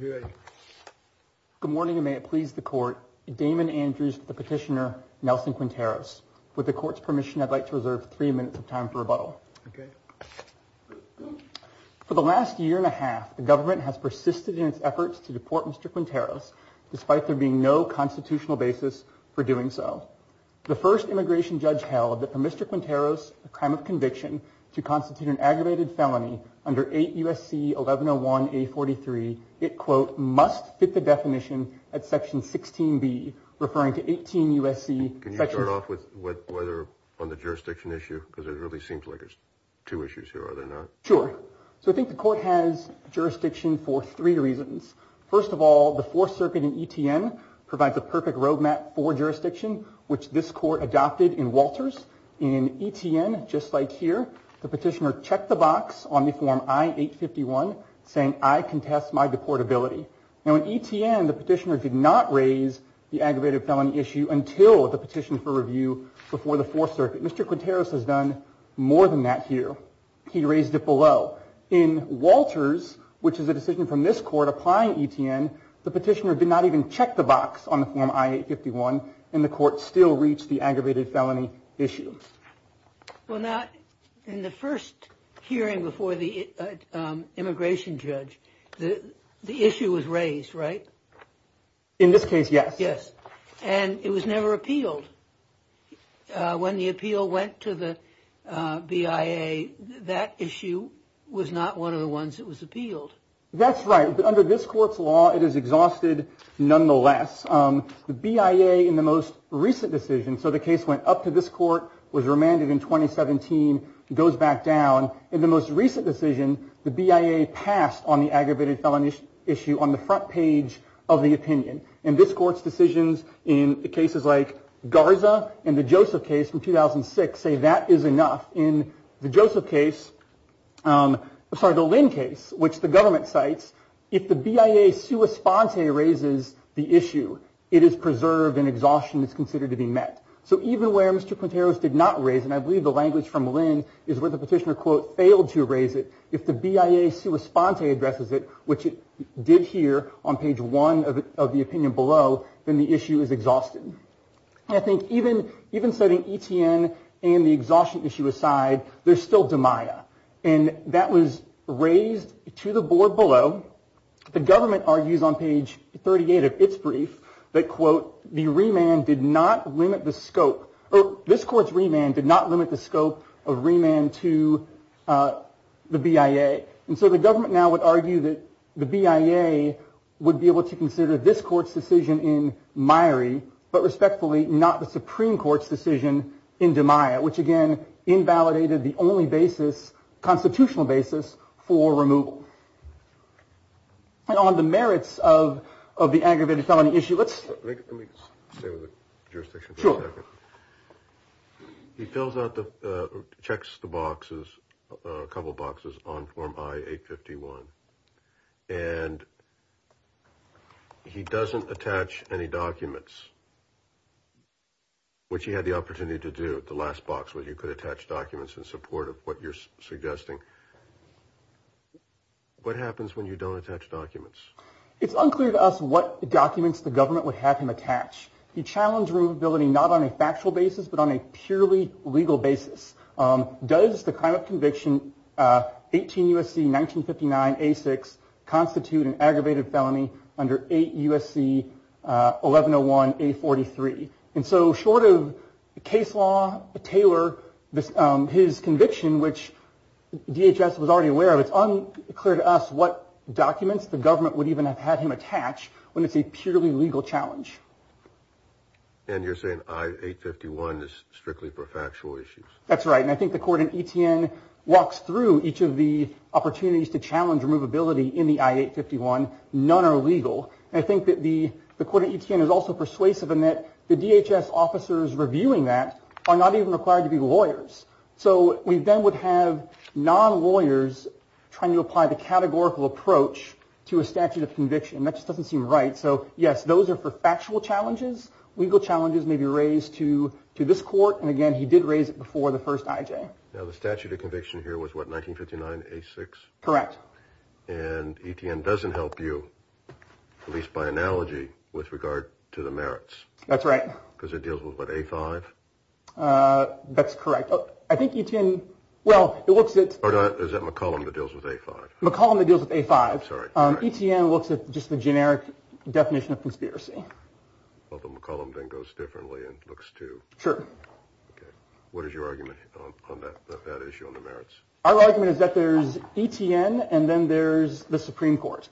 Good morning and may it please the court, Damon Andrews, the petitioner, and Nelson Quinteros. With the court's permission, I'd like to reserve three minutes of time for rebuttal. For the last year and a half, the government has persisted in its efforts to deport Mr. Quinteros, despite there being no constitutional basis for doing so. The first immigration judge held that for Mr. Quinteros, a crime of conviction, to constitute an aggravated felony under 8 U.S.C. 1101-A43, it quote, must fit the definition at section 16-B, referring to 18 U.S.C. Can you start off with whether on the jurisdiction issue, because it really seems like there's two issues here, are there not? Sure. So I think the court has jurisdiction for three reasons. First of all, the Fourth Circuit in ETN provides a perfect roadmap for jurisdiction, which this court adopted in Walters. In ETN, just like here, the petitioner checked the box on the form I-851, saying, I contest my deportability. Now in ETN, the petitioner did not raise the aggravated felony issue until the petition for review before the Fourth Circuit. Mr. Quinteros has done more than that here. He raised it below. In Walters, which is a decision from this court applying ETN, the petitioner did not even check the box on the form I-851, and the court still reached the aggravated felony issue. Well now, in the first hearing before the immigration judge, the issue was raised, right? In this case, yes. Yes. And it was never appealed. When the appeal went to the BIA, that issue was not one of the ones that was appealed. That's right. Under this court's law, it is exhausted nonetheless. The BIA, in the most recent decision, so the case went up to this court, was remanded in 2017, goes back down. In the most recent decision, the BIA passed on the aggravated felony issue on the front page of the opinion. And this court's decisions in cases like Garza and the Joseph case from 2006 say that is enough. In the Joseph case, I'm sorry, the Lynn case, which the government cites, if the BIA sua sponte raises the issue, it is preserved and exhaustion is considered to be met. So even where Mr. Quinteros did not raise, and I believe the language from Lynn is where the petitioner, quote, failed to raise it, if the BIA sua sponte addresses it, which it did here on page one of the opinion below, then the issue is exhausted. And I think even setting ETN and the exhaustion issue aside, there's still demaia. And that was raised to the board below. The government argues on page 38 of its brief that, quote, the remand did not limit the scope, or this court's remand did not limit the scope of remand to the BIA. And so the government now would argue that the BIA would be able to consider this court's decision in Myrie, but respectfully, not the Supreme Court's decision in Demaia, which again, invalidated the only basis, constitutional basis, for removal. And on the merits of the aggravated felony issue, let's... Let me stay with the jurisdiction for a second. Sure. He fills out the, checks the boxes, a couple boxes on form I-851, and he doesn't attach any documents, which he had the opportunity to do at the last box, where you could attach documents in support of what you're suggesting. What happens when you don't attach documents? It's unclear to us what documents the government would have him attach. He challenged removability not on a factual basis, but on a purely legal basis. Does the crime of conviction 18 U.S.C. 1959, A-6 constitute an aggravated felony under 8 U.S.C. 1101, A-43? And so, short of case law, Taylor, his conviction, which DHS was already aware of, it's unclear to us what documents the government would even have had him attach when it's a purely legal challenge. And you're saying I-851 is strictly for factual issues? That's right. And I think the court in ETN walks through each of the opportunities to challenge removability in the I-851. None are legal. And I think that the court in ETN is also persuasive in that the DHS officers reviewing that are not even required to be lawyers. So we then would have non-lawyers trying to apply the categorical approach to a statute of conviction. That just doesn't seem right. So, yes, those are for factual challenges. Legal challenges may be raised to this court. And again, he did raise it before the first IJ. Now, the statute of conviction here was what, 1959, A-6? Correct. And ETN doesn't help you, at least by analogy, with regard to the merits. That's right. Because it deals with what, A-5? That's correct. I think ETN, well, it looks at- Or is it McCollum that deals with A-5? McCollum that deals with A-5. Sorry. ETN looks at just the generic definition of conspiracy. Although McCollum then goes differently and looks too. Sure. What is your argument on that issue, on the merits? Our argument is that there's ETN and then there's the Supreme Court.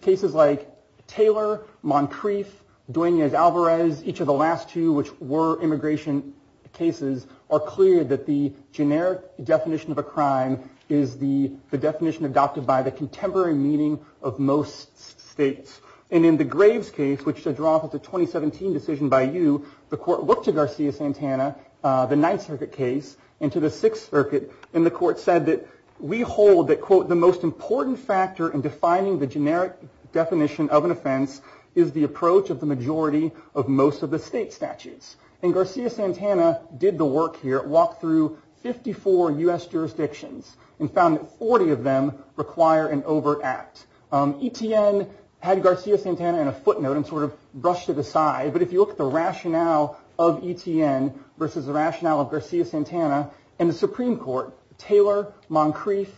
Cases like Taylor, Moncrief, Duenas-Alvarez, each of the last two, which were immigration cases, are clear that the generic definition of a crime is the definition adopted by the contemporary meaning of most states. And in the Graves case, which should draw off of the 2017 decision by you, the court looked to Garcia-Santana, the Ninth Circuit case, and to the Sixth Circuit. And the court said that we hold that, quote, the most important factor in defining the generic definition of an offense is the approach of the majority of most of the state statutes. And Garcia-Santana did the work here. It walked through 54 U.S. jurisdictions and found that 40 of them require an overt act. ETN had Garcia-Santana in a footnote and sort of brushed it aside. But if you look at the rationale of ETN versus the rationale of Garcia-Santana, in the Supreme Court, Taylor, Moncrief,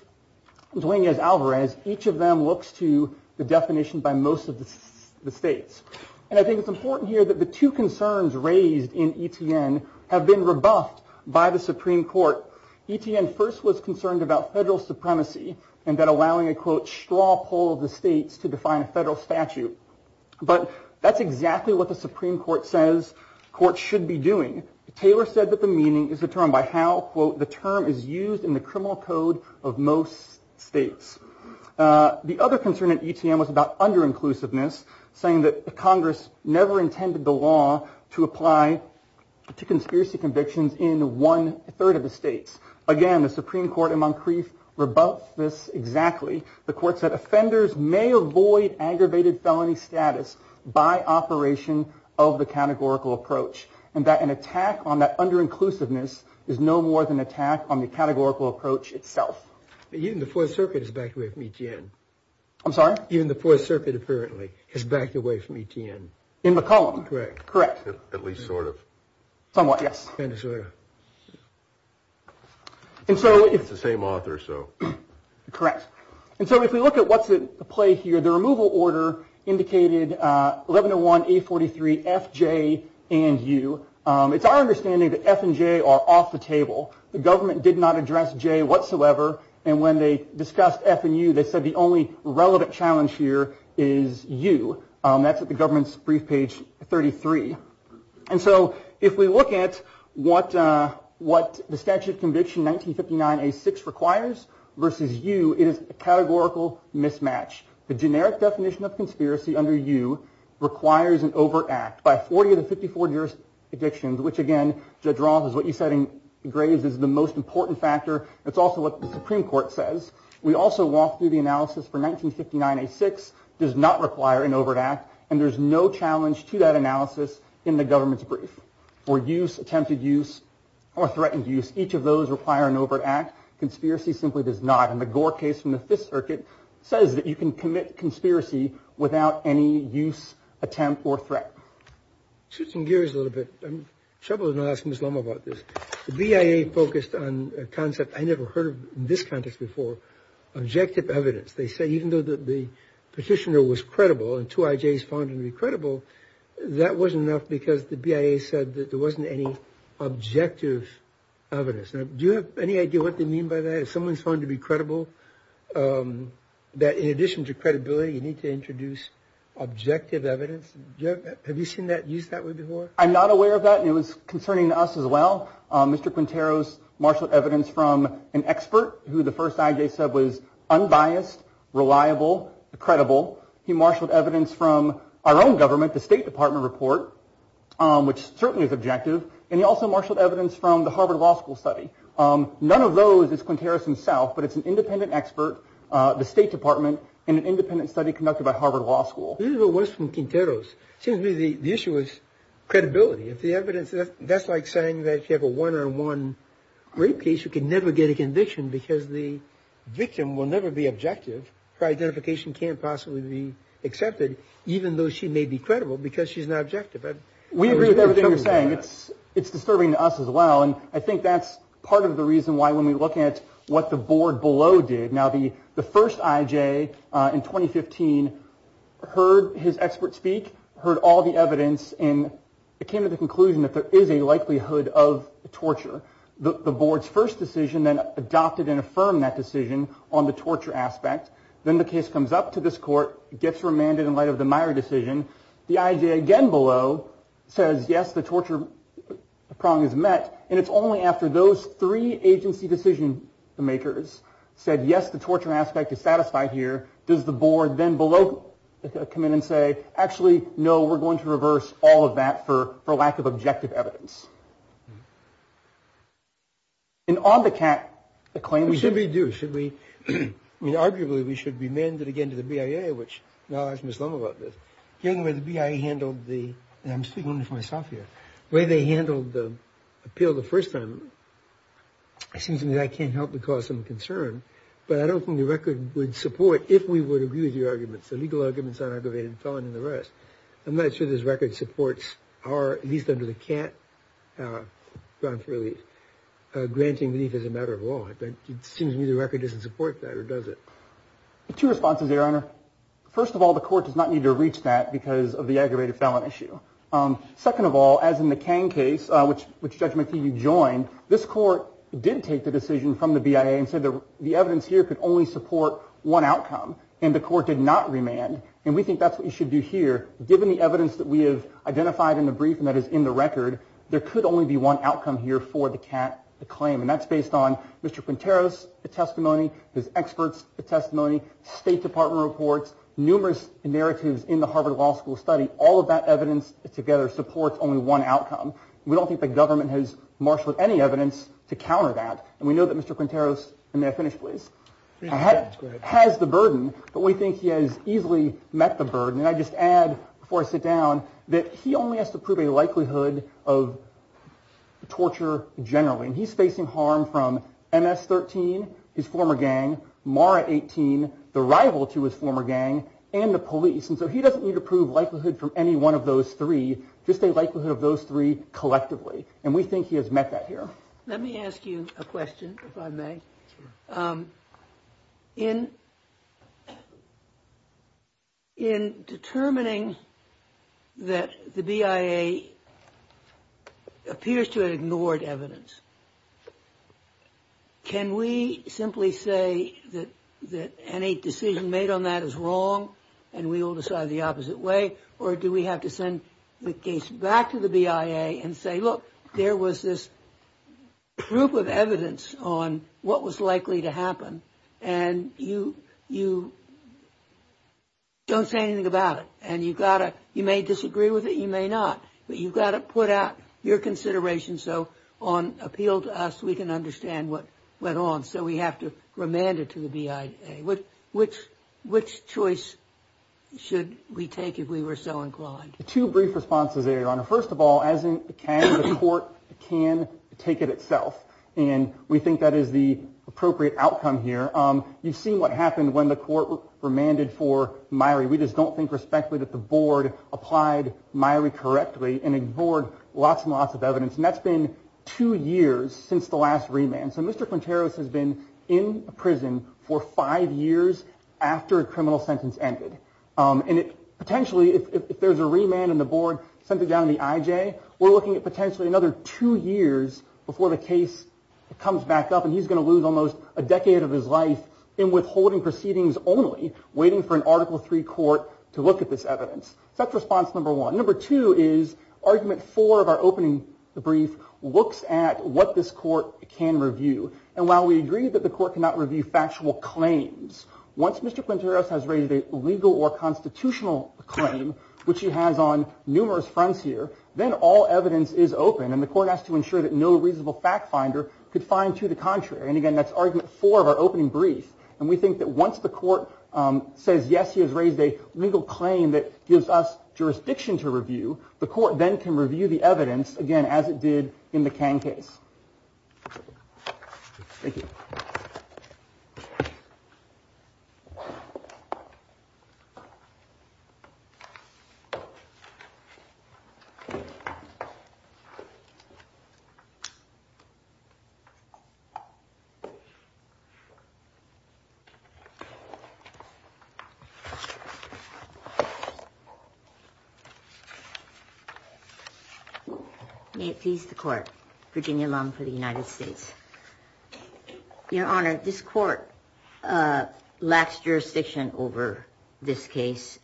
Duenas-Alvarez, each of them looks to the definition by most of the states. And I think it's important here that the two concerns raised in ETN have been rebuffed by the Supreme Court. ETN first was concerned about federal supremacy and that allowing a, quote, straw poll of the states to define a federal statute. But that's exactly what the Supreme Court says courts should be doing. Taylor said that the meaning is determined by how, quote, the term is used in the criminal code of most states. The other concern at ETN was about under-inclusiveness, saying that Congress never intended the law to apply to conspiracy convictions in one third of the states. Again, the Supreme Court and Moncrief rebuffed this exactly. The court said offenders may avoid aggravated felony status by operation of the categorical approach, and that an attack on that under-inclusiveness is no more than an attack on the categorical approach itself. Even the Fourth Circuit is backed away from ETN. I'm sorry? Even the Fourth Circuit, apparently, is backed away from ETN. In McCollum. Correct. At least sort of. Somewhat, yes. Kind of, sort of. It's the same author, so. Correct. And so if we look at what's at play here, the removal order indicated 1101A43FJ and U. It's our understanding that F and J are off the table. The government did not address J whatsoever. And when they discussed F and U, they said the only relevant challenge here is U. That's at the government's brief page 33. And so if we look at what the statute of conviction 1959A6 requires versus U, it is a categorical mismatch. The generic definition of conspiracy under U requires an overt act. By 40 of the 54 jurisdictions, which again, Judge Roth is what you said in Graves, is the most important factor. It's also what the Supreme Court says. We also walked through the analysis for 1959A6 does not require an overt act. And there's no challenge to that analysis in the government's brief. For use, attempted use, or threatened use, each of those require an overt act. Conspiracy simply does not. And the Gore case from the Fifth Circuit says that you can commit conspiracy without any use, attempt, or threat. Switching gears a little bit, I'm troubled enough to ask Ms. Loma about this. The BIA focused on a concept I never heard of in this context before, objective evidence. They say even though the petitioner was credible and two IJs found him to be credible, that wasn't enough because the BIA said that there wasn't any objective evidence. Do you have any idea what they mean by that? If someone's found to be credible, that in addition to credibility, you need to introduce objective evidence? Have you seen that used that way before? I'm not aware of that, and it was concerning to us as well. Mr. Quinteros marshaled evidence from an expert who the first IJ said was unbiased, reliable, credible. He marshaled evidence from our own government, the State Department report, which certainly is objective. And he also marshaled evidence from the Harvard Law School study. None of those is Quinteros himself, but it's an independent expert, the State Department, and an independent study conducted by Harvard Law School. It seems to me the issue is credibility. If the evidence, that's like saying that if you have a one-on-one rape case, you can never get a conviction because the victim will never be objective. Her identification can't possibly be accepted, even though she may be credible because she's not objective. We agree with everything you're saying. It's disturbing to us as well, and I think that's part of the reason why when we look at what the board below did. Now, the first IJ in 2015 heard his expert speak, heard all the evidence, and it came to the conclusion that there is a likelihood of torture. The board's first decision then adopted and affirmed that decision on the torture aspect. Then the case comes up to this court, gets remanded in light of the Meyer decision. The IJ again below says, yes, the torture prong is met, and it's only after those three agency decision-makers said, yes, the torture aspect is satisfied here, does the board then below come in and say, actually, no, we're going to reverse all of that for lack of objective evidence. And on the cat, the claim. We should be due. Should we? I mean, arguably, we should be mandated again to the BIA, which knowledge Muslim about this. I'm speaking only for myself here. The way they handled the appeal the first time, it seems to me that can't help but cause some concern, but I don't think the record would support if we would agree with your arguments, the legal arguments on aggravated felon and the rest. I'm not sure this record supports our, at least under the cat, granting relief as a matter of law. It seems to me the record doesn't support that or does it? Two responses, Your Honor. First of all, the court does not need to reach that because of the aggravated felon issue. Second of all, as in the King case, which, which judgment do you join? This court did take the decision from the BIA and said the evidence here could only support one outcome. And the court did not remand. And we think that's what you should do here. Given the evidence that we have identified in the brief and that is in the record, there could only be one outcome here for the cat, the claim. And that's based on Mr. Quintero's testimony, his experts' testimony, State Department reports, numerous narratives in the Harvard Law School study. All of that evidence together supports only one outcome. We don't think the government has marshaled any evidence to counter that. And we know that Mr. Quintero's, and may I finish please, has the burden, but we think he has easily met the burden. And I just add, before I sit down, that he only has to prove a likelihood of torture generally. And he's facing harm from MS-13, his former gang, MARA-18, the rival to his former gang, and the police. And so he doesn't need to prove likelihood from any one of those three, just a likelihood of those three collectively. And we think he has met that here. Let me ask you a question, if I may. In determining that the BIA appears to have ignored evidence, can we simply say that any decision made on that is wrong and we will decide the opposite way? Or do we have to send the case back to the BIA and say, look, there was this proof of evidence on what was likely to happen. And you don't say anything about it. And you may disagree with it, you may not. But you've got to put out your consideration so on appeal to us we can understand what went on. So we have to remand it to the BIA. Okay. Which choice should we take if we were so inclined? Two brief responses there, Your Honor. First of all, as in can, the court can take it itself. And we think that is the appropriate outcome here. You've seen what happened when the court remanded for Myrie. We just don't think respectfully that the board applied Myrie correctly and ignored lots and lots of evidence. And that's been two years since the last remand. So Mr. Quinteros has been in prison for five years after a criminal sentence ended. And potentially, if there's a remand and the board sent it down to the IJ, we're looking at potentially another two years before the case comes back up and he's going to lose almost a decade of his life in withholding proceedings only, waiting for an Article III court to look at this evidence. So that's response number one. Number two is argument four of our opening brief looks at what this court can review. And while we agree that the court cannot review factual claims, once Mr. Quinteros has raised a legal or constitutional claim, which he has on numerous fronts here, then all evidence is open and the court has to ensure that no reasonable fact finder could find to the contrary. And again, that's argument four of our opening brief. And we think that once the court says, yes, he has raised a legal claim that gives us jurisdiction to review, the court then can review the evidence again, as it did in the can case. May it please the court. Virginia Lum for the United States. Your Honor, this court lacks jurisdiction over this case.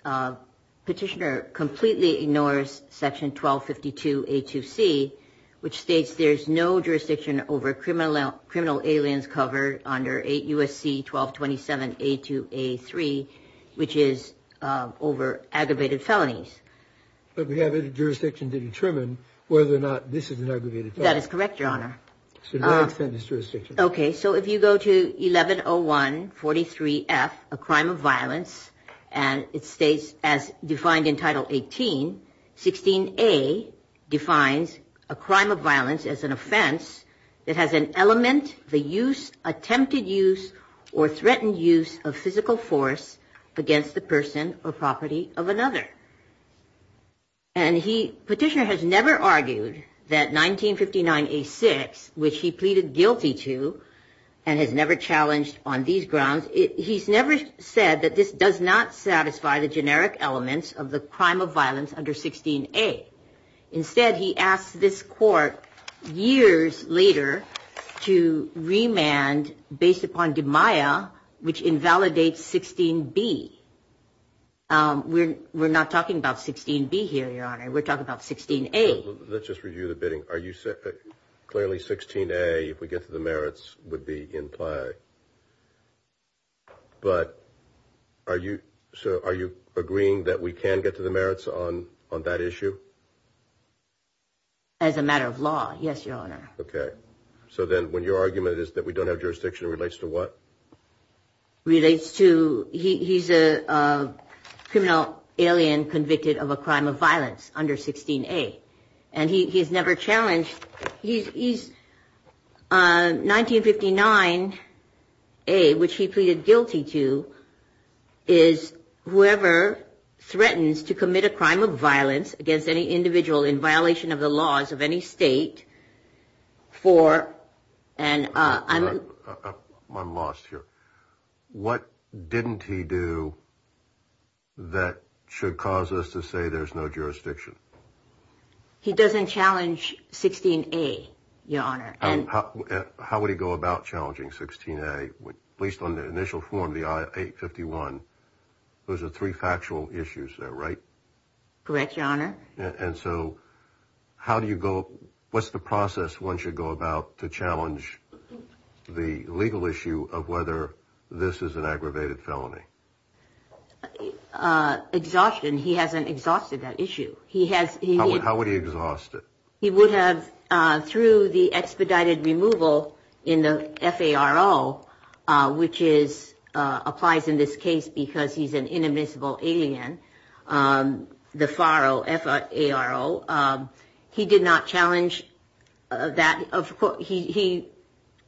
Petitioner completely ignores Section 1252A2C, which states there's no jurisdiction over criminal aliens covered under 8 U.S.C. 1227A2A3, which is over aggravated felonies. But we have jurisdiction to determine whether or not this is an aggravated felon. That is correct, Your Honor. Okay. So if you go to 110143F, a crime of violence, and it states as defined in Title 18, 16A defines a crime of violence as an offense that has an element, the use, attempted use, or threatened use of physical force against the person or property of another. And petitioner has never argued that 1959A6, which he pleaded guilty to and has never challenged on these grounds, he's never said that this does not satisfy the generic elements of the crime of violence under 16A. Instead, he asked this court years later to remand based upon DMIA, which invalidates 16B. We're not talking about 16B here, Your Honor. We're talking about 16A. Let's just review the bidding. Clearly, 16A, if we get to the merits, would be implied. But are you agreeing that we can get to the merits on that issue? As a matter of law, yes, Your Honor. Okay. So then when your argument is that we don't have jurisdiction, it relates to what? Relates to he's a criminal alien convicted of a crime of violence under 16A. And he's never challenged. He's 1959A, which he pleaded guilty to, is whoever threatens to commit a crime of violence against any individual in violation of the laws of any state for, and I'm. I'm lost here. What didn't he do that should cause us to say there's no jurisdiction? He doesn't challenge 16A, Your Honor. And how would he go about challenging 16A, at least on the initial form, the I-851? Those are three factual issues there, right? Correct, Your Honor. And so how do you go, what's the process one should go about to challenge the legal issue of whether this is an aggravated felony? Exhaustion. He hasn't exhausted that issue. How would he exhaust it? He would have, through the expedited removal in the FARO, which applies in this case because he's an inadmissible alien, the FARO, F-A-R-O, he did not challenge that. He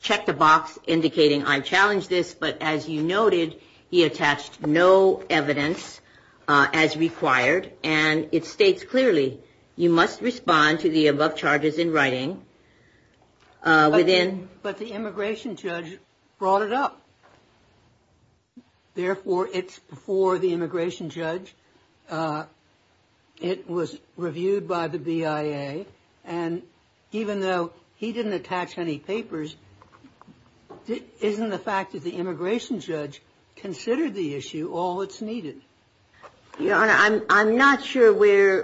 checked the box indicating I challenge this, but as you noted, he attached no evidence as required, and it states clearly, you must respond to the above charges in writing. But the immigration judge brought it up. Therefore, it's before the immigration judge. It was reviewed by the BIA, and even though he didn't attach any papers, isn't the fact that the immigration judge considered the issue all that's needed? Your Honor, I'm not sure where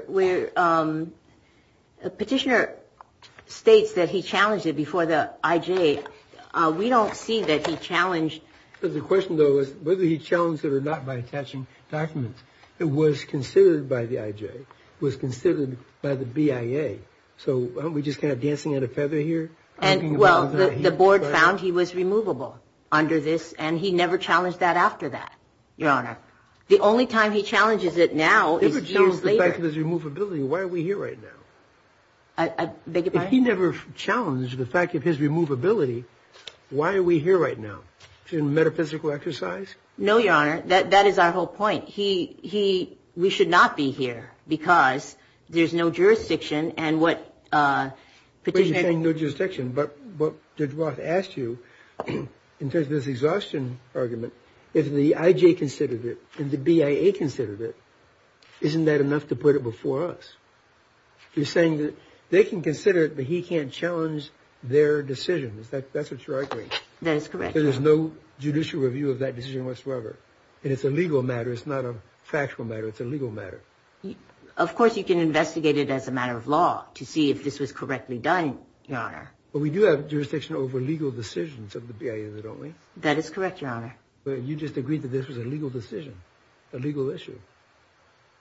Petitioner states that he challenged it before the IJ. We don't see that he challenged. The question, though, is whether he challenged it or not by attaching documents. It was considered by the IJ. It was considered by the BIA. So aren't we just kind of dancing on a feather here? Well, the board found he was removable under this, and he never challenged that after that, Your Honor. The only time he challenges it now is years later. If he never challenged the fact of his removability, why are we here right now? I beg your pardon? No, Your Honor. That is our whole point. We should not be here because there's no jurisdiction, and what Petitioner — You're saying no jurisdiction. But what Judge Roth asked you in terms of this exhaustion argument, if the IJ considered it, if the BIA considered it, isn't that enough to put it before us? You're saying that they can consider it, but he can't challenge their decisions. That's what you're arguing. That is correct. There is no judicial review of that decision whatsoever, and it's a legal matter. It's not a factual matter. It's a legal matter. Of course, you can investigate it as a matter of law to see if this was correctly done, Your Honor. But we do have jurisdiction over legal decisions of the BIA, don't we? That is correct, Your Honor. But you just agreed that this was a legal decision, a legal issue.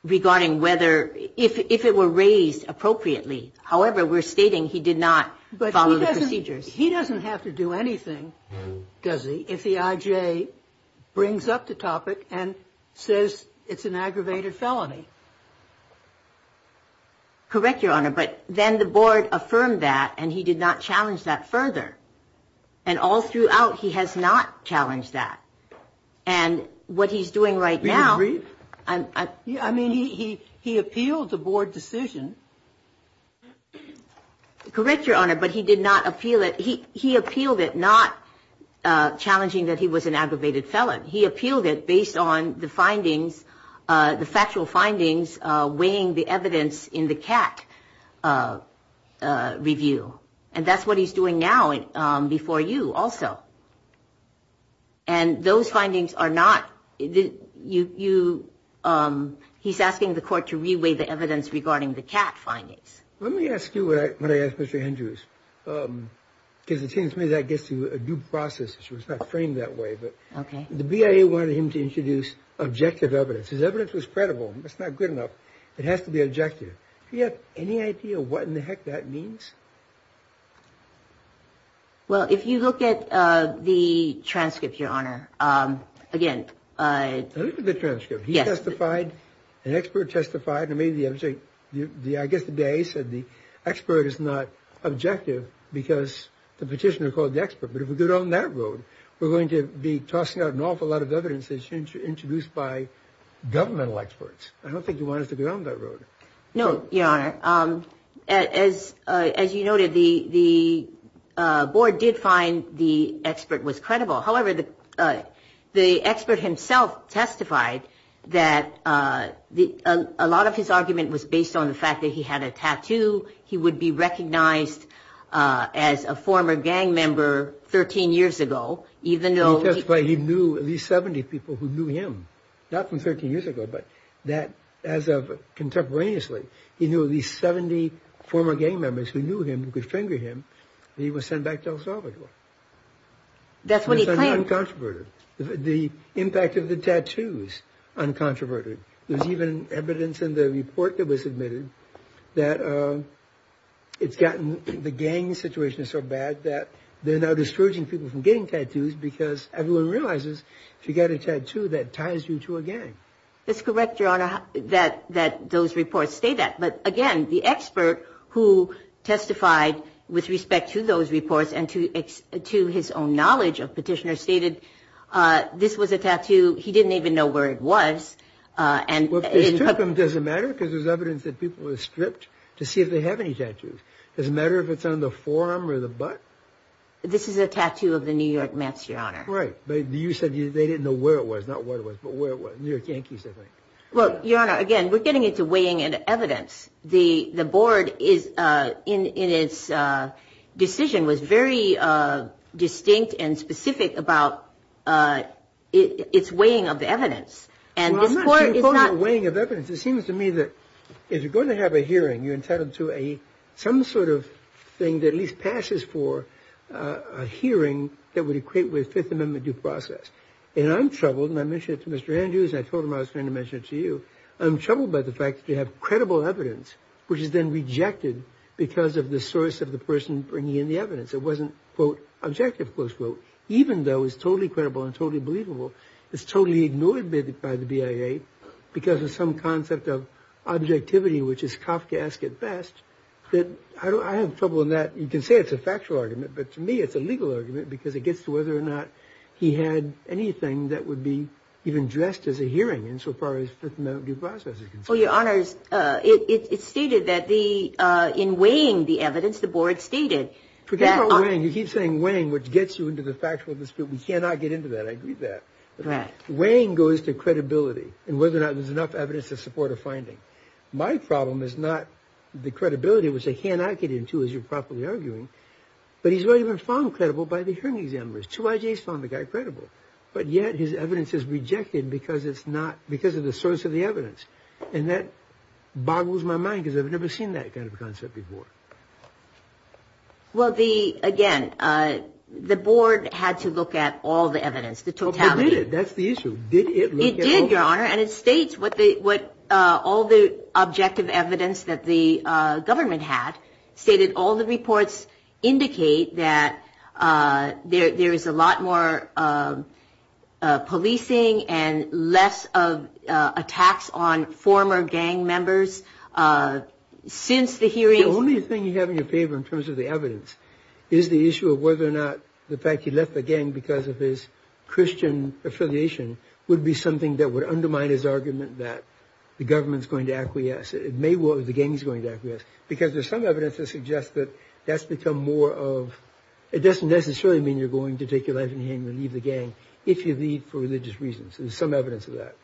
Regarding whether — if it were raised appropriately. However, we're stating he did not follow the procedures. He doesn't have to do anything, does he, if the IJ brings up the topic and says it's an aggravated felony? Correct, Your Honor. But then the board affirmed that, and he did not challenge that further. And all throughout, he has not challenged that. And what he's doing right now — Do you agree? I mean, he appealed the board decision. Correct, Your Honor, but he did not appeal it. He appealed it, not challenging that he was an aggravated felon. He appealed it based on the findings, the factual findings weighing the evidence in the CAT review. And that's what he's doing now before you also. And those findings are not — you — he's asking the court to re-weigh the evidence regarding the CAT. Let me ask you what I asked Mr. Andrews, because it seems to me that gets you a due process. It's not framed that way, but the BIA wanted him to introduce objective evidence. His evidence was credible. That's not good enough. It has to be objective. Do you have any idea what in the heck that means? Well, if you look at the transcript, Your Honor, again — Look at the transcript. He testified, an expert testified, and maybe the object — I guess the BIA said the expert is not objective because the petitioner called the expert. But if we go down that road, we're going to be tossing out an awful lot of evidence introduced by governmental experts. I don't think they want us to go down that road. No, Your Honor. As you noted, the board did find the expert was credible. However, the expert himself testified that a lot of his argument was based on the fact that he had a tattoo. He would be recognized as a former gang member 13 years ago, even though — He testified he knew at least 70 people who knew him, not from 13 years ago, but that as of contemporaneously, he knew at least 70 former gang members who knew him, who could finger him, and he was sent back to El Salvador. That's what he claimed. The impact of the tattoos, uncontroverted. There's even evidence in the report that was submitted that it's gotten — the gang situation is so bad that they're now discouraging people from getting tattoos because everyone realizes if you've got a tattoo, that ties you to a gang. That's correct, Your Honor, that those reports state that. But again, the expert who testified with respect to those reports and to his own knowledge of petitioners stated this was a tattoo. He didn't even know where it was. It doesn't matter because there's evidence that people were stripped to see if they have any tattoos. It doesn't matter if it's on the forearm or the butt. This is a tattoo of the New York Mets, Your Honor. Right. But you said they didn't know where it was, not where it was, but where it was. New York Yankees, I think. Well, Your Honor, again, we're getting into weighing in evidence. The board in its decision was very distinct and specific about its weighing of the evidence. Well, I'm not sure you're talking about weighing of evidence. It seems to me that if you're going to have a hearing, you're entitled to some sort of thing that at least passes for a hearing that would equate with Fifth Amendment due process. And I'm troubled, and I mentioned it to Mr. Andrews, and I told him I was going to mention it to you. I'm troubled by the fact that you have credible evidence, which is then rejected because of the source of the person bringing in the evidence. It wasn't, quote, objective, close quote. Even though it's totally credible and totally believable, it's totally ignored by the BIA because of some concept of objectivity, which is Kafka asked it best. I have trouble in that. You can say it's a factual argument. But to me, it's a legal argument because it gets to whether or not he had anything that would be even dressed as a hearing. And so far as Fifth Amendment due process is concerned. Well, Your Honors, it stated that the in weighing the evidence, the board stated. You keep saying weighing, which gets you into the factual dispute. We cannot get into that. I agree with that. Right. My problem is not the credibility, which I cannot get into, as you're probably arguing. But he's already been found credible by the hearing examiners. Two IJs found the guy credible. But yet his evidence is rejected because it's not because of the source of the evidence. And that boggles my mind because I've never seen that kind of concept before. Well, the again, the board had to look at all the evidence, the totality. That's the issue. It did, Your Honor. And it states what all the objective evidence that the government had stated. All the reports indicate that there is a lot more policing and less of attacks on former gang members since the hearing. The only thing you have in your favor in terms of the evidence is the issue of whether or not the fact he left the gang because of his Christian affiliation would be something that would undermine his argument that the government is going to acquiesce. It may well be the gang is going to acquiesce because there's some evidence that suggests that that's become more of it doesn't necessarily mean you're going to take your life in hand and leave the gang if you leave for religious reasons. There's some evidence of that.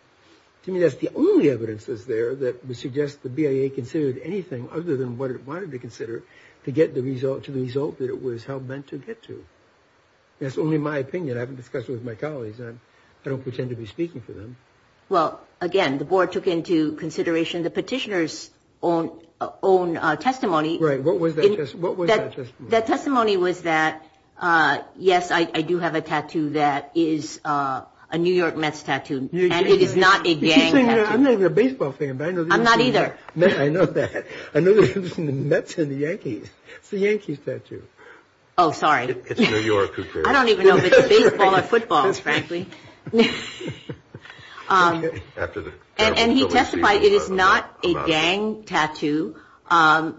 To me, that's the only evidence that's there that would suggest the BIA considered anything other than what it wanted to consider to get the result to the result that it was meant to get to. That's only my opinion. I haven't discussed it with my colleagues. I don't pretend to be speaking for them. Well, again, the board took into consideration the petitioners own own testimony. Right. What was that? What was that? That testimony was that, yes, I do have a tattoo. That is a New York Mets tattoo. And it is not a baseball thing. I'm not either. I know that. I know that's in the Yankees. It's the Yankees tattoo. Oh, sorry. It's New York. I don't even know if it's baseball or football, frankly. And he testified it is not a gang tattoo.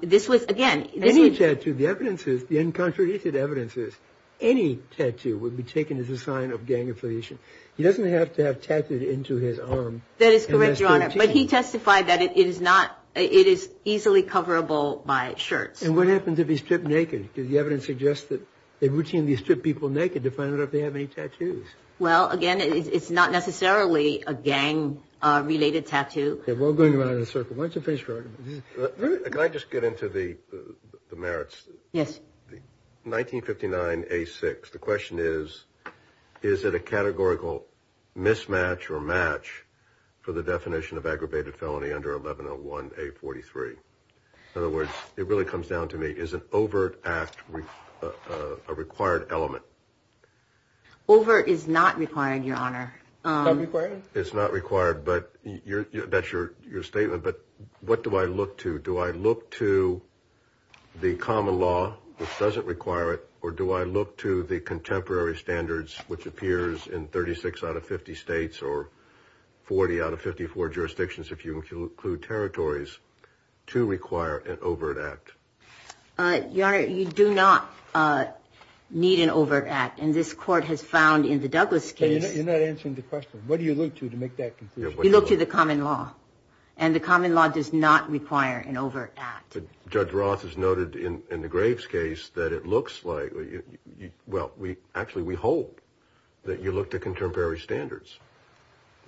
This was, again. Any tattoo, the evidence is, the uncontradicted evidence is, any tattoo would be taken as a sign of gang affiliation. He doesn't have to have tattooed into his arm. That is correct, Your Honor. But he testified that it is not, it is easily coverable by shirts. And what happens if he's stripped naked? The evidence suggests that they routinely strip people naked to find out if they have any tattoos. Well, again, it's not necessarily a gang-related tattoo. We're going around in a circle. Why don't you finish your argument? Can I just get into the merits? Yes. 1959A6. The question is, is it a categorical mismatch or match for the definition of aggravated felony under 1101A43? In other words, it really comes down to me, is an overt act a required element? Overt is not required, Your Honor. It's not required, but that's your statement. But what do I look to? Do I look to the common law, which doesn't require it, or do I look to the contemporary standards, which appears in 36 out of 50 states or 40 out of 54 jurisdictions, if you include territories, to require an overt act? Your Honor, you do not need an overt act. And this Court has found in the Douglas case. You're not answering the question. What do you look to to make that conclusion? You look to the common law. And the common law does not require an overt act. Judge Roth has noted in the Graves case that it looks like, well, actually we hope that you look to contemporary standards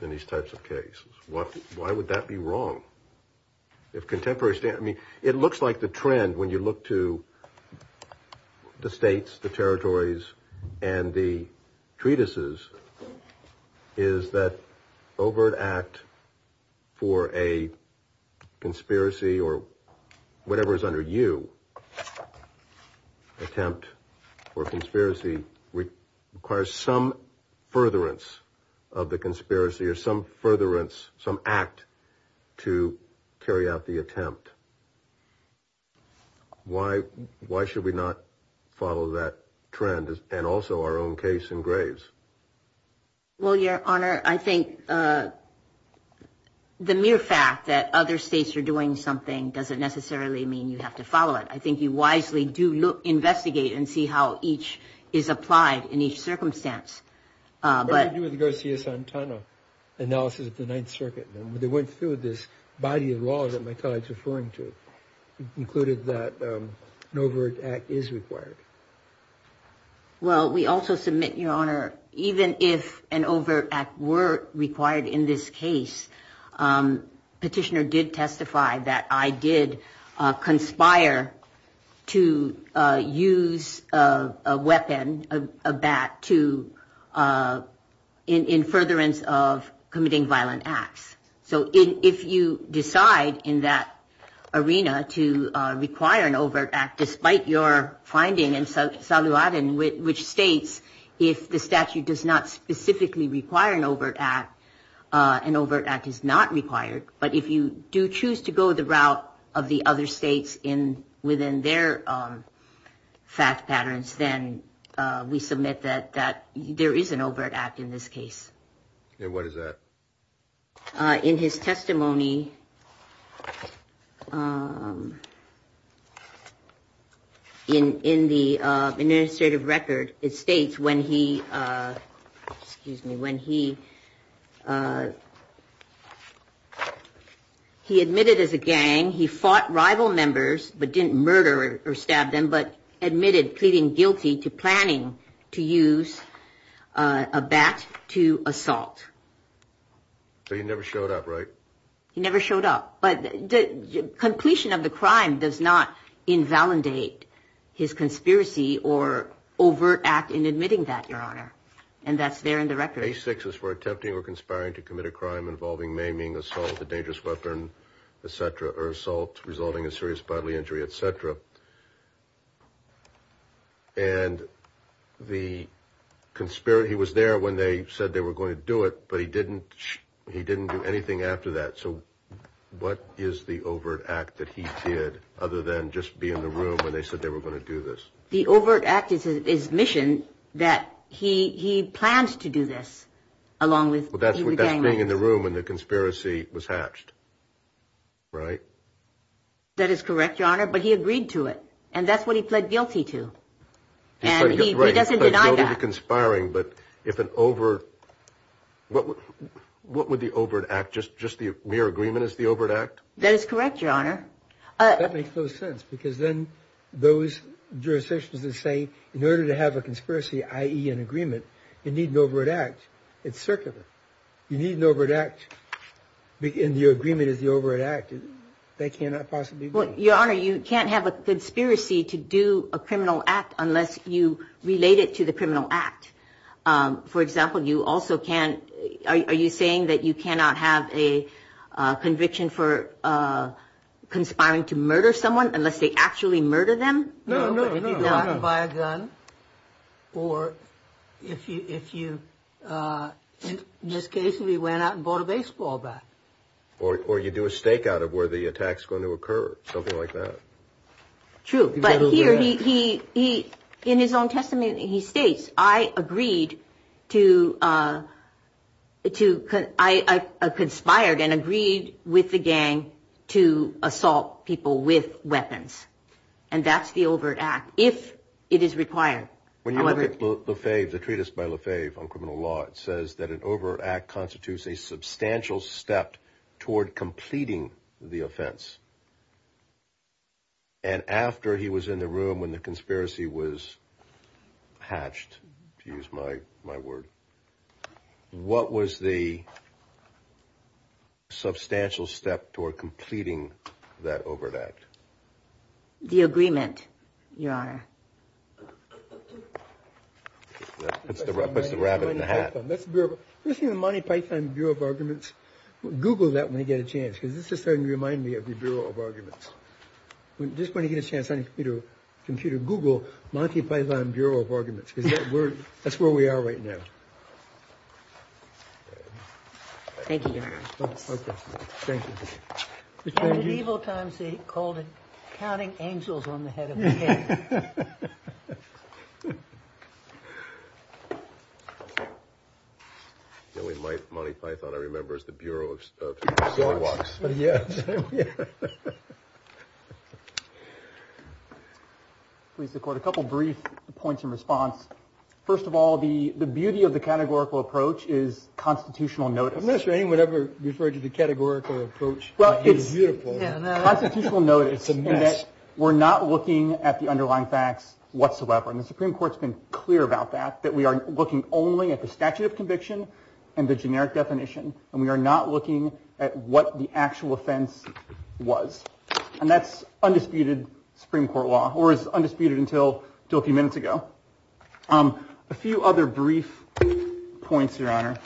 in these types of cases. Why would that be wrong? I mean, it looks like the trend when you look to the states, the territories, and the treatises is that overt act for a conspiracy or whatever is under you, attempt for a conspiracy requires some furtherance of the conspiracy or some furtherance, some act to carry out the attempt. Why should we not follow that trend and also our own case in Graves? Well, Your Honor, I think the mere fact that other states are doing something doesn't necessarily mean you have to follow it. I think you wisely do investigate and see how each is applied in each circumstance. What do you do with the Garcia-Santana analysis of the Ninth Circuit? They went through this body of law that my colleague is referring to. It included that an overt act is required. Well, we also submit, Your Honor, even if an overt act were required in this case, petitioner did testify that I did conspire to use a weapon, a bat, to in furtherance of committing violent acts. So if you decide in that arena to require an overt act, despite your finding in Saluadin, which states if the statute does not specifically require an overt act, an overt act is not required. But if you do choose to go the route of the other states within their fact patterns, then we submit that there is an overt act in this case. And what is that? In his testimony in the administrative record, it states when he, excuse me, when he admitted as a gang, he fought rival members but didn't murder or stab them, but admitted pleading guilty to planning to use a bat to assault. So he never showed up, right? He never showed up. But the completion of the crime does not invalidate his conspiracy or overt act in admitting that, Your Honor. And that's there in the record. Case six is for attempting or conspiring to commit a crime involving maiming, assault, a dangerous weapon, et cetera, or assault resulting in serious bodily injury, et cetera. And the conspiracy was there when they said they were going to do it, but he didn't do anything after that. So what is the overt act that he did other than just be in the room when they said they were going to do this? The overt act is his mission that he plans to do this along with the gang members. But that's being in the room when the conspiracy was hatched, right? That is correct, Your Honor, but he agreed to it. And that's what he pled guilty to. And he doesn't deny that. He pled guilty to conspiring, but if an overt, what would the overt act, just the mere agreement as the overt act? That is correct, Your Honor. That makes no sense, because then those jurisdictions that say in order to have a conspiracy, i.e. an agreement, you need an overt act, it's circular. You need an overt act, and your agreement is the overt act. That cannot possibly be. Well, Your Honor, you can't have a conspiracy to do a criminal act unless you relate it to the criminal act. For example, you also can't, are you saying that you cannot have a conviction for conspiring to murder someone unless they actually murder them? No, no, no. If you go out and buy a gun, or if you, in this case, if you went out and bought a baseball bat. Or you do a stakeout of where the attack's going to occur, something like that. True. But here he, in his own testimony, he states, I agreed to, I conspired and agreed with the gang to assault people with weapons. And that's the overt act, if it is required. When you look at Lefebvre, the treatise by Lefebvre on criminal law, it says that an overt act constitutes a substantial step toward completing the offense. And after he was in the room when the conspiracy was hatched, to use my word, what was the substantial step toward completing that overt act? The agreement, Your Honor. That's the rabbit in the hat. First thing, the Monty Python Bureau of Arguments, Google that when you get a chance, because this is starting to remind me of the Bureau of Arguments. Just when you get a chance on your computer, Google Monty Python Bureau of Arguments, because that's where we are right now. Thank you, Your Honor. Okay. Thank you. In medieval times, they called it counting angels on the head of the head. The only Monty Python I remember is the Bureau of Story Watch. Yes. Please record a couple of brief points in response. First of all, the beauty of the categorical approach is constitutional notice. Unless anyone ever referred to the categorical approach. Well, it's beautiful. It's a mess. We're not looking at the underlying facts whatsoever. And the Supreme Court's been clear about that, that we are looking only at the statute of conviction and the generic definition. And we are not looking at what the actual offense was. And that's undisputed Supreme Court law or is undisputed until a few minutes ago. A few other brief points, Your Honor.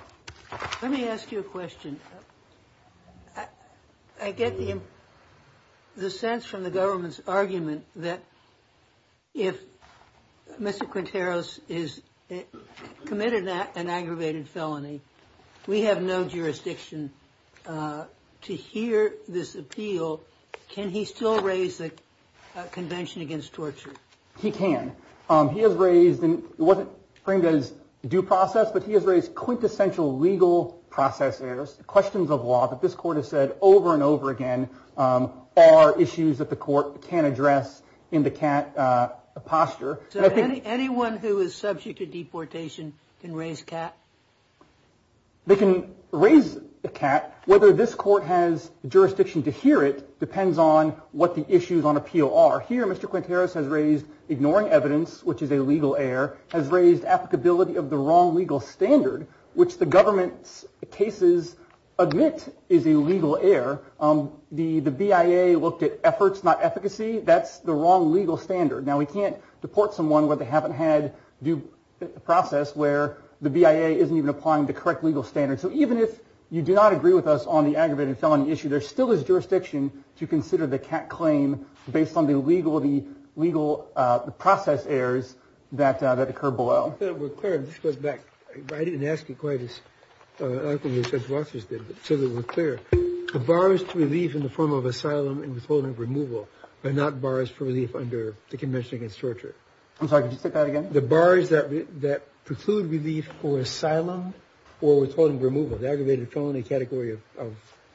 Let me ask you a question. I get the sense from the government's argument that if Mr. Quinteros is committed an aggravated felony, we have no jurisdiction to hear this appeal. Can he still raise the Convention Against Torture? He can. He has raised and it wasn't framed as due process, but he has raised quintessential legal process errors. Questions of law that this court has said over and over again are issues that the court can address in the cat posture. Anyone who is subject to deportation can raise cat. They can raise a cat. Whether this court has jurisdiction to hear it depends on what the issues on appeal are. Up here, Mr. Quinteros has raised ignoring evidence, which is a legal error, has raised applicability of the wrong legal standard, which the government's cases admit is a legal error. The BIA looked at efforts, not efficacy. That's the wrong legal standard. Now, we can't deport someone where they haven't had due process where the BIA isn't even applying the correct legal standards. So even if you do not agree with us on the aggravated felony issue, there still is jurisdiction to consider the cat claim based on the legal, the legal process errors that occur below. We're clear. This goes back. I didn't ask you quite as often as Judge Rosses did, so that we're clear. The bars to relief in the form of asylum and withholding removal are not bars for relief under the Convention Against Torture. I'm sorry, could you say that again? The bars that preclude relief for asylum or withholding removal, the aggravated felony category of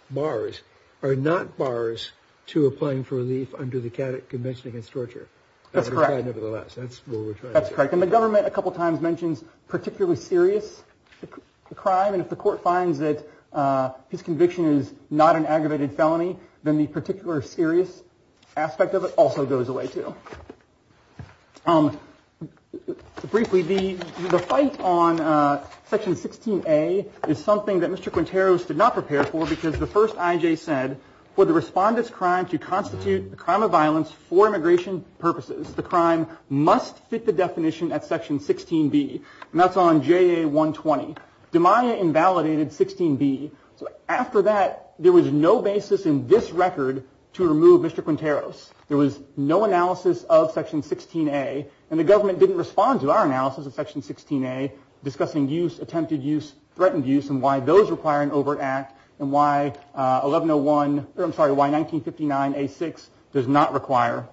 bars, are not bars to applying for relief under the Convention Against Torture. That's correct. Nevertheless, that's what we're trying. That's correct. And the government a couple of times mentions particularly serious crime. And if the court finds that his conviction is not an aggravated felony, then the particular serious aspect of it also goes away, too. Briefly, the fight on Section 16A is something that Mr. Quinteros did not prepare for, because the first I.J. said, for the respondent's crime to constitute a crime of violence for immigration purposes, the crime must fit the definition at Section 16B. And that's on JA 120. DeMaia invalidated 16B. So after that, there was no basis in this record to remove Mr. Quinteros. There was no analysis of Section 16A, and the government didn't respond to our analysis of Section 16A discussing use, attempted use, threatened use, and why those require an overt act and why 1101 or, I'm sorry, why 1959A6 does not require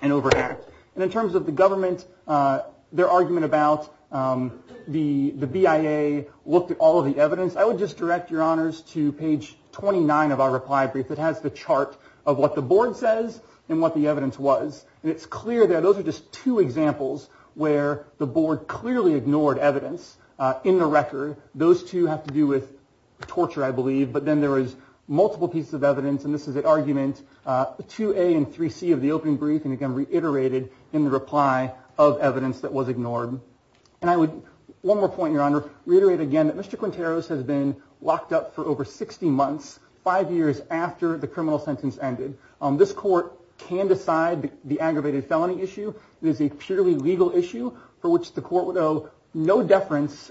an overt act. And in terms of the government, their argument about the BIA looked at all of the evidence, I would just direct your honors to page 29 of our reply brief that has the chart of what the board says and what the evidence was. And it's clear that those are just two examples where the board clearly ignored evidence in the record. Those two have to do with torture, I believe. But then there was multiple pieces of evidence, and this is an argument, 2A and 3C of the opening brief, and again reiterated in the reply of evidence that was ignored. And I would, one more point, your honor, reiterate again that Mr. Quinteros has been locked up for over 60 months, five years after the criminal sentence ended. This court can decide the aggravated felony issue. It is a purely legal issue for which the court would owe no deference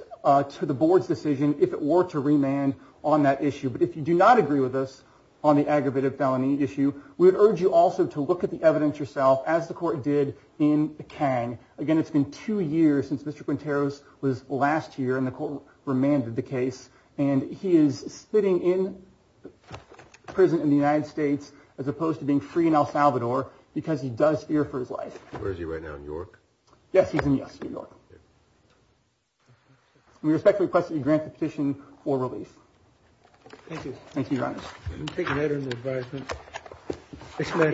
to the board's decision if it were to remand on that issue. But if you do not agree with us on the aggravated felony issue, we would urge you also to look at the evidence yourself, as the court did in the Kang. Again, it's been two years since Mr. Quinteros was last here, and the court remanded the case, and he is sitting in prison in the United States as opposed to being free in El Salvador because he does fear for his life. Where is he right now, in York? Yes, he's in York. We respectfully request that you grant the petition for release. Thank you. Thank you, your honor.